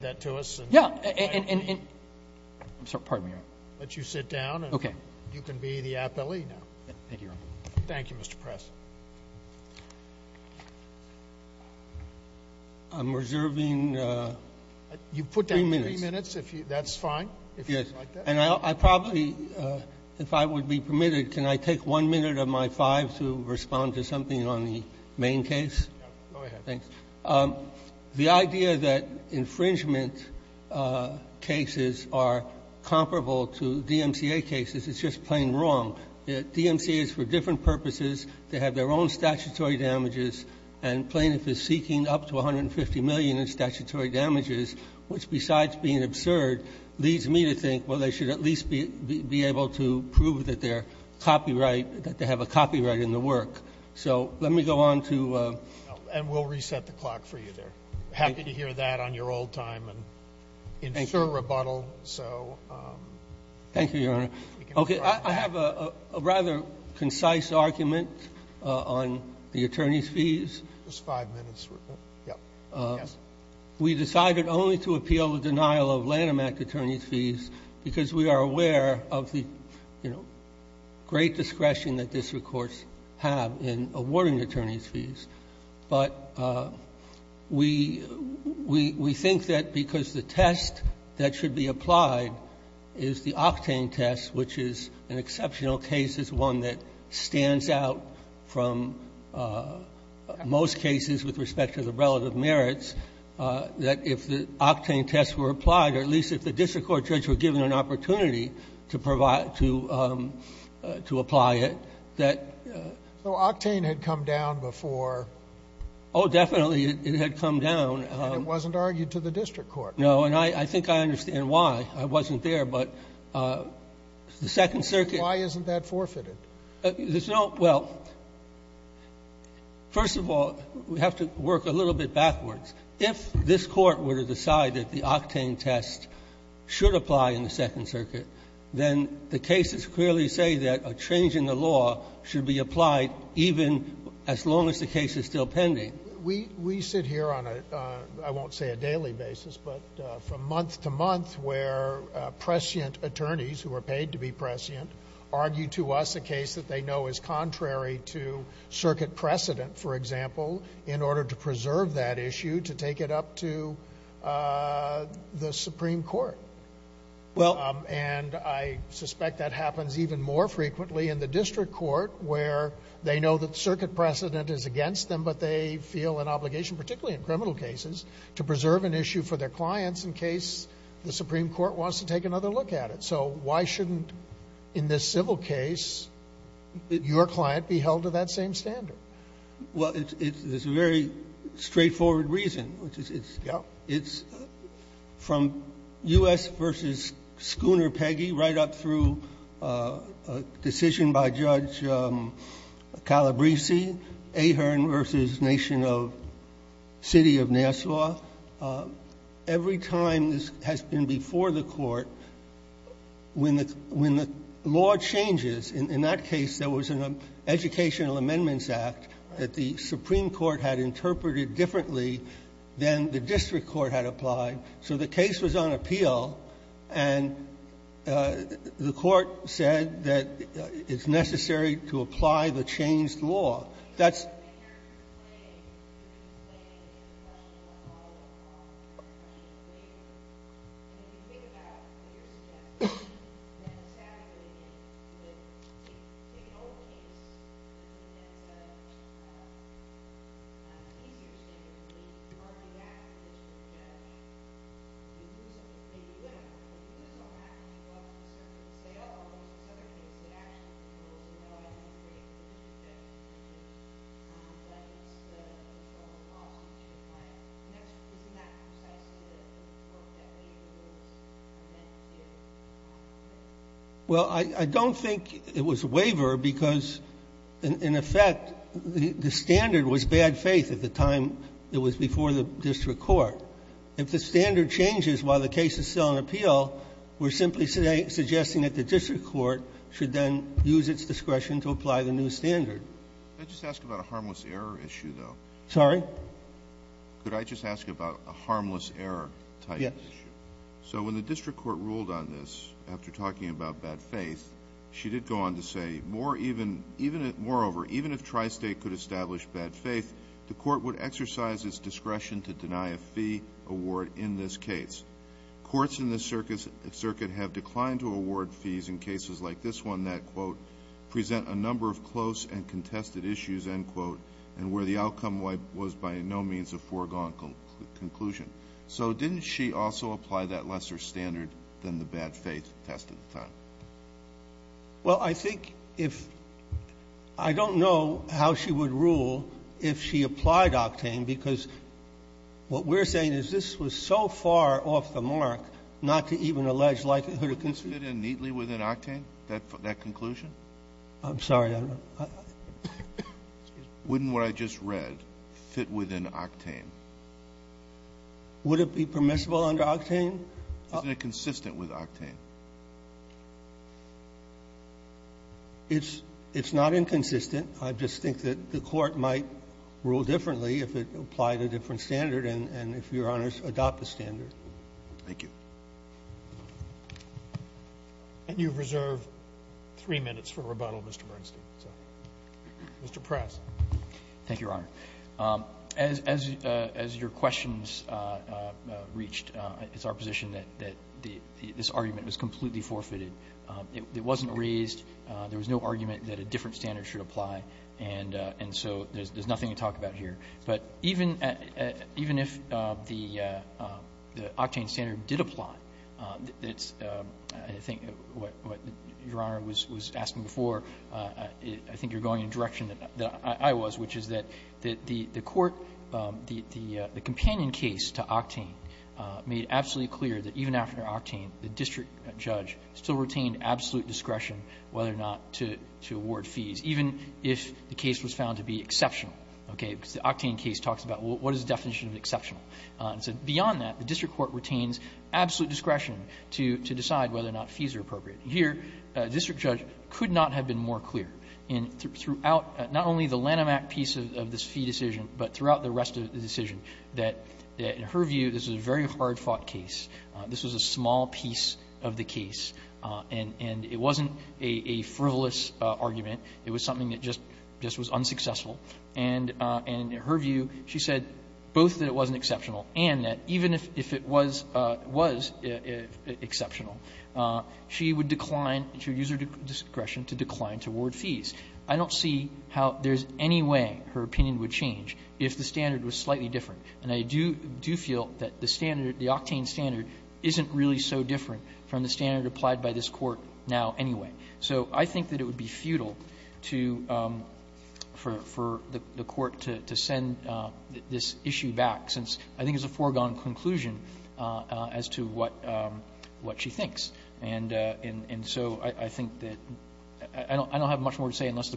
that to us and let you sit down and you can be the appellee now. Thank you, Mr. Press. I'm reserving three minutes. You've put down three minutes. That's fine, if you'd like that. And I probably, if I would be permitted, can I take one minute of my five to respond to something on the main case? Go ahead. The idea that infringement cases are comparable to DMCA cases is just plain wrong. DMCA is for different purposes. They have their own statutory damages and plaintiff is seeking up to $150 million in statutory damages, which besides being absurd, leads me to think, well, they should at least be able to prove that they have a copyright in the work. So let me go on to – And we'll reset the clock for you there. Happy to hear that on your old time and ensure rebuttal. Thank you, Your Honor. Okay. I have a rather concise argument on the attorney's fees. Just five minutes. We decided only to appeal the denial of Lanham Act attorney's fees because we are aware of the, you know, great discretion that district courts have in awarding attorney's fees. But we think that because the test that should be applied is the octane test, which is an exceptional case, is one that stands out from most cases with respect to the relative merits, that if the octane tests were applied, or at least if the district court were given an opportunity to provide, to apply it, that – So octane had come down before – Oh, definitely it had come down. And it wasn't argued to the district court. No. And I think I understand why. I wasn't there. But the Second Circuit – Why isn't that forfeited? There's no – well, first of all, we have to work a little bit backwards. If this Court were to decide that the octane test should apply in the Second Circuit, then the cases clearly say that a change in the law should be applied even as long as the case is still pending. We sit here on a – I won't say a daily basis, but from month to month where prescient attorneys, who are paid to be prescient, argue to us a case that they know is contrary to circuit precedent, for example, in order to preserve that issue to take it up to the Supreme Court. Well – And I suspect that happens even more frequently in the district court, where they know that circuit precedent is against them, but they feel an obligation, particularly in criminal cases, to preserve an issue for their clients in case the Supreme Court wants to take another look at it. So why shouldn't, in this civil case, your client be held to that same standard? Well, it's a very straightforward reason, which is it's – Yeah. It's from U.S. v. Schooner Peggy right up through a decision by Judge Calabresi, Ahearn v. Nation of – City of Nassau. Every time this has been before the Court, when the – when the law changes, in that case, there was an Educational Amendments Act that the Supreme Court had interpreted differently than the district court had applied. So the case was on appeal, and the Court said that it's necessary to apply the changed law. That's – And if you think about what you're suggesting, then sadly, the – take an old case, and instead of – it's an easier statement to make. You argue back at the district judge. You lose something. You win a point. You lose all that, and you go up to the circuit and say, uh-oh, there's this other case that actually rules, and oh, I didn't agree with the district judge's opinion. Well, I don't think it was a waiver because, in effect, the standard was bad faith at the time it was before the district court. If the standard changes while the case is still on appeal, we're simply suggesting that the district court should then use its discretion to apply the new standard. Could I just ask about a harmless error issue, though? Sorry? Could I just ask about a harmless error type issue? Yes. So when the district court ruled on this after talking about bad faith, she did go on to say, moreover, even if Tri-State could establish bad faith, the court would exercise its discretion to deny a fee award in this case. Courts in this circuit have declined to award fees in cases like this one that, quote, end quote, and where the outcome was by no means a foregone conclusion. So didn't she also apply that lesser standard than the bad faith test at the time? Well, I think if — I don't know how she would rule if she applied Octane because what we're saying is this was so far off the mark not to even allege likelihood of conclusion. Did this fit in neatly within Octane, that conclusion? I'm sorry. Excuse me. Wouldn't what I just read fit within Octane? Would it be permissible under Octane? Isn't it consistent with Octane? It's not inconsistent. I just think that the Court might rule differently if it applied a different standard and if Your Honors adopt the standard. Thank you. And you reserve three minutes for rebuttal, Mr. Bernstein. Mr. Press. Thank you, Your Honor. As your questions reached, it's our position that this argument was completely forfeited. It wasn't raised. There was no argument that a different standard should apply. And so there's nothing to talk about here. But even if the Octane standard did apply, I think what Your Honor was asking before, I think you're going in a direction that I was, which is that the court, the companion case to Octane made absolutely clear that even after Octane, the district judge still retained absolute discretion whether or not to award fees, even if the Octane case talks about what is the definition of exceptional. Beyond that, the district court retains absolute discretion to decide whether or not fees are appropriate. Here, a district judge could not have been more clear throughout not only the Lanham Act piece of this fee decision, but throughout the rest of the decision, that in her view, this was a very hard-fought case. This was a small piece of the case, and it wasn't a frivolous argument. It was something that just was unsuccessful. And in her view, she said both that it wasn't exceptional and that even if it was exceptional, she would decline, she would use her discretion to decline to award fees. I don't see how there's any way her opinion would change if the standard was slightly different. And I do feel that the standard, the Octane standard, isn't really so different from the standard applied by this Court now anyway. So I think that it would be futile to – for the Court to send this issue back, since I think it's a foregone conclusion as to what she thinks. And so I think that – I don't have much more to say unless the Court has any questions.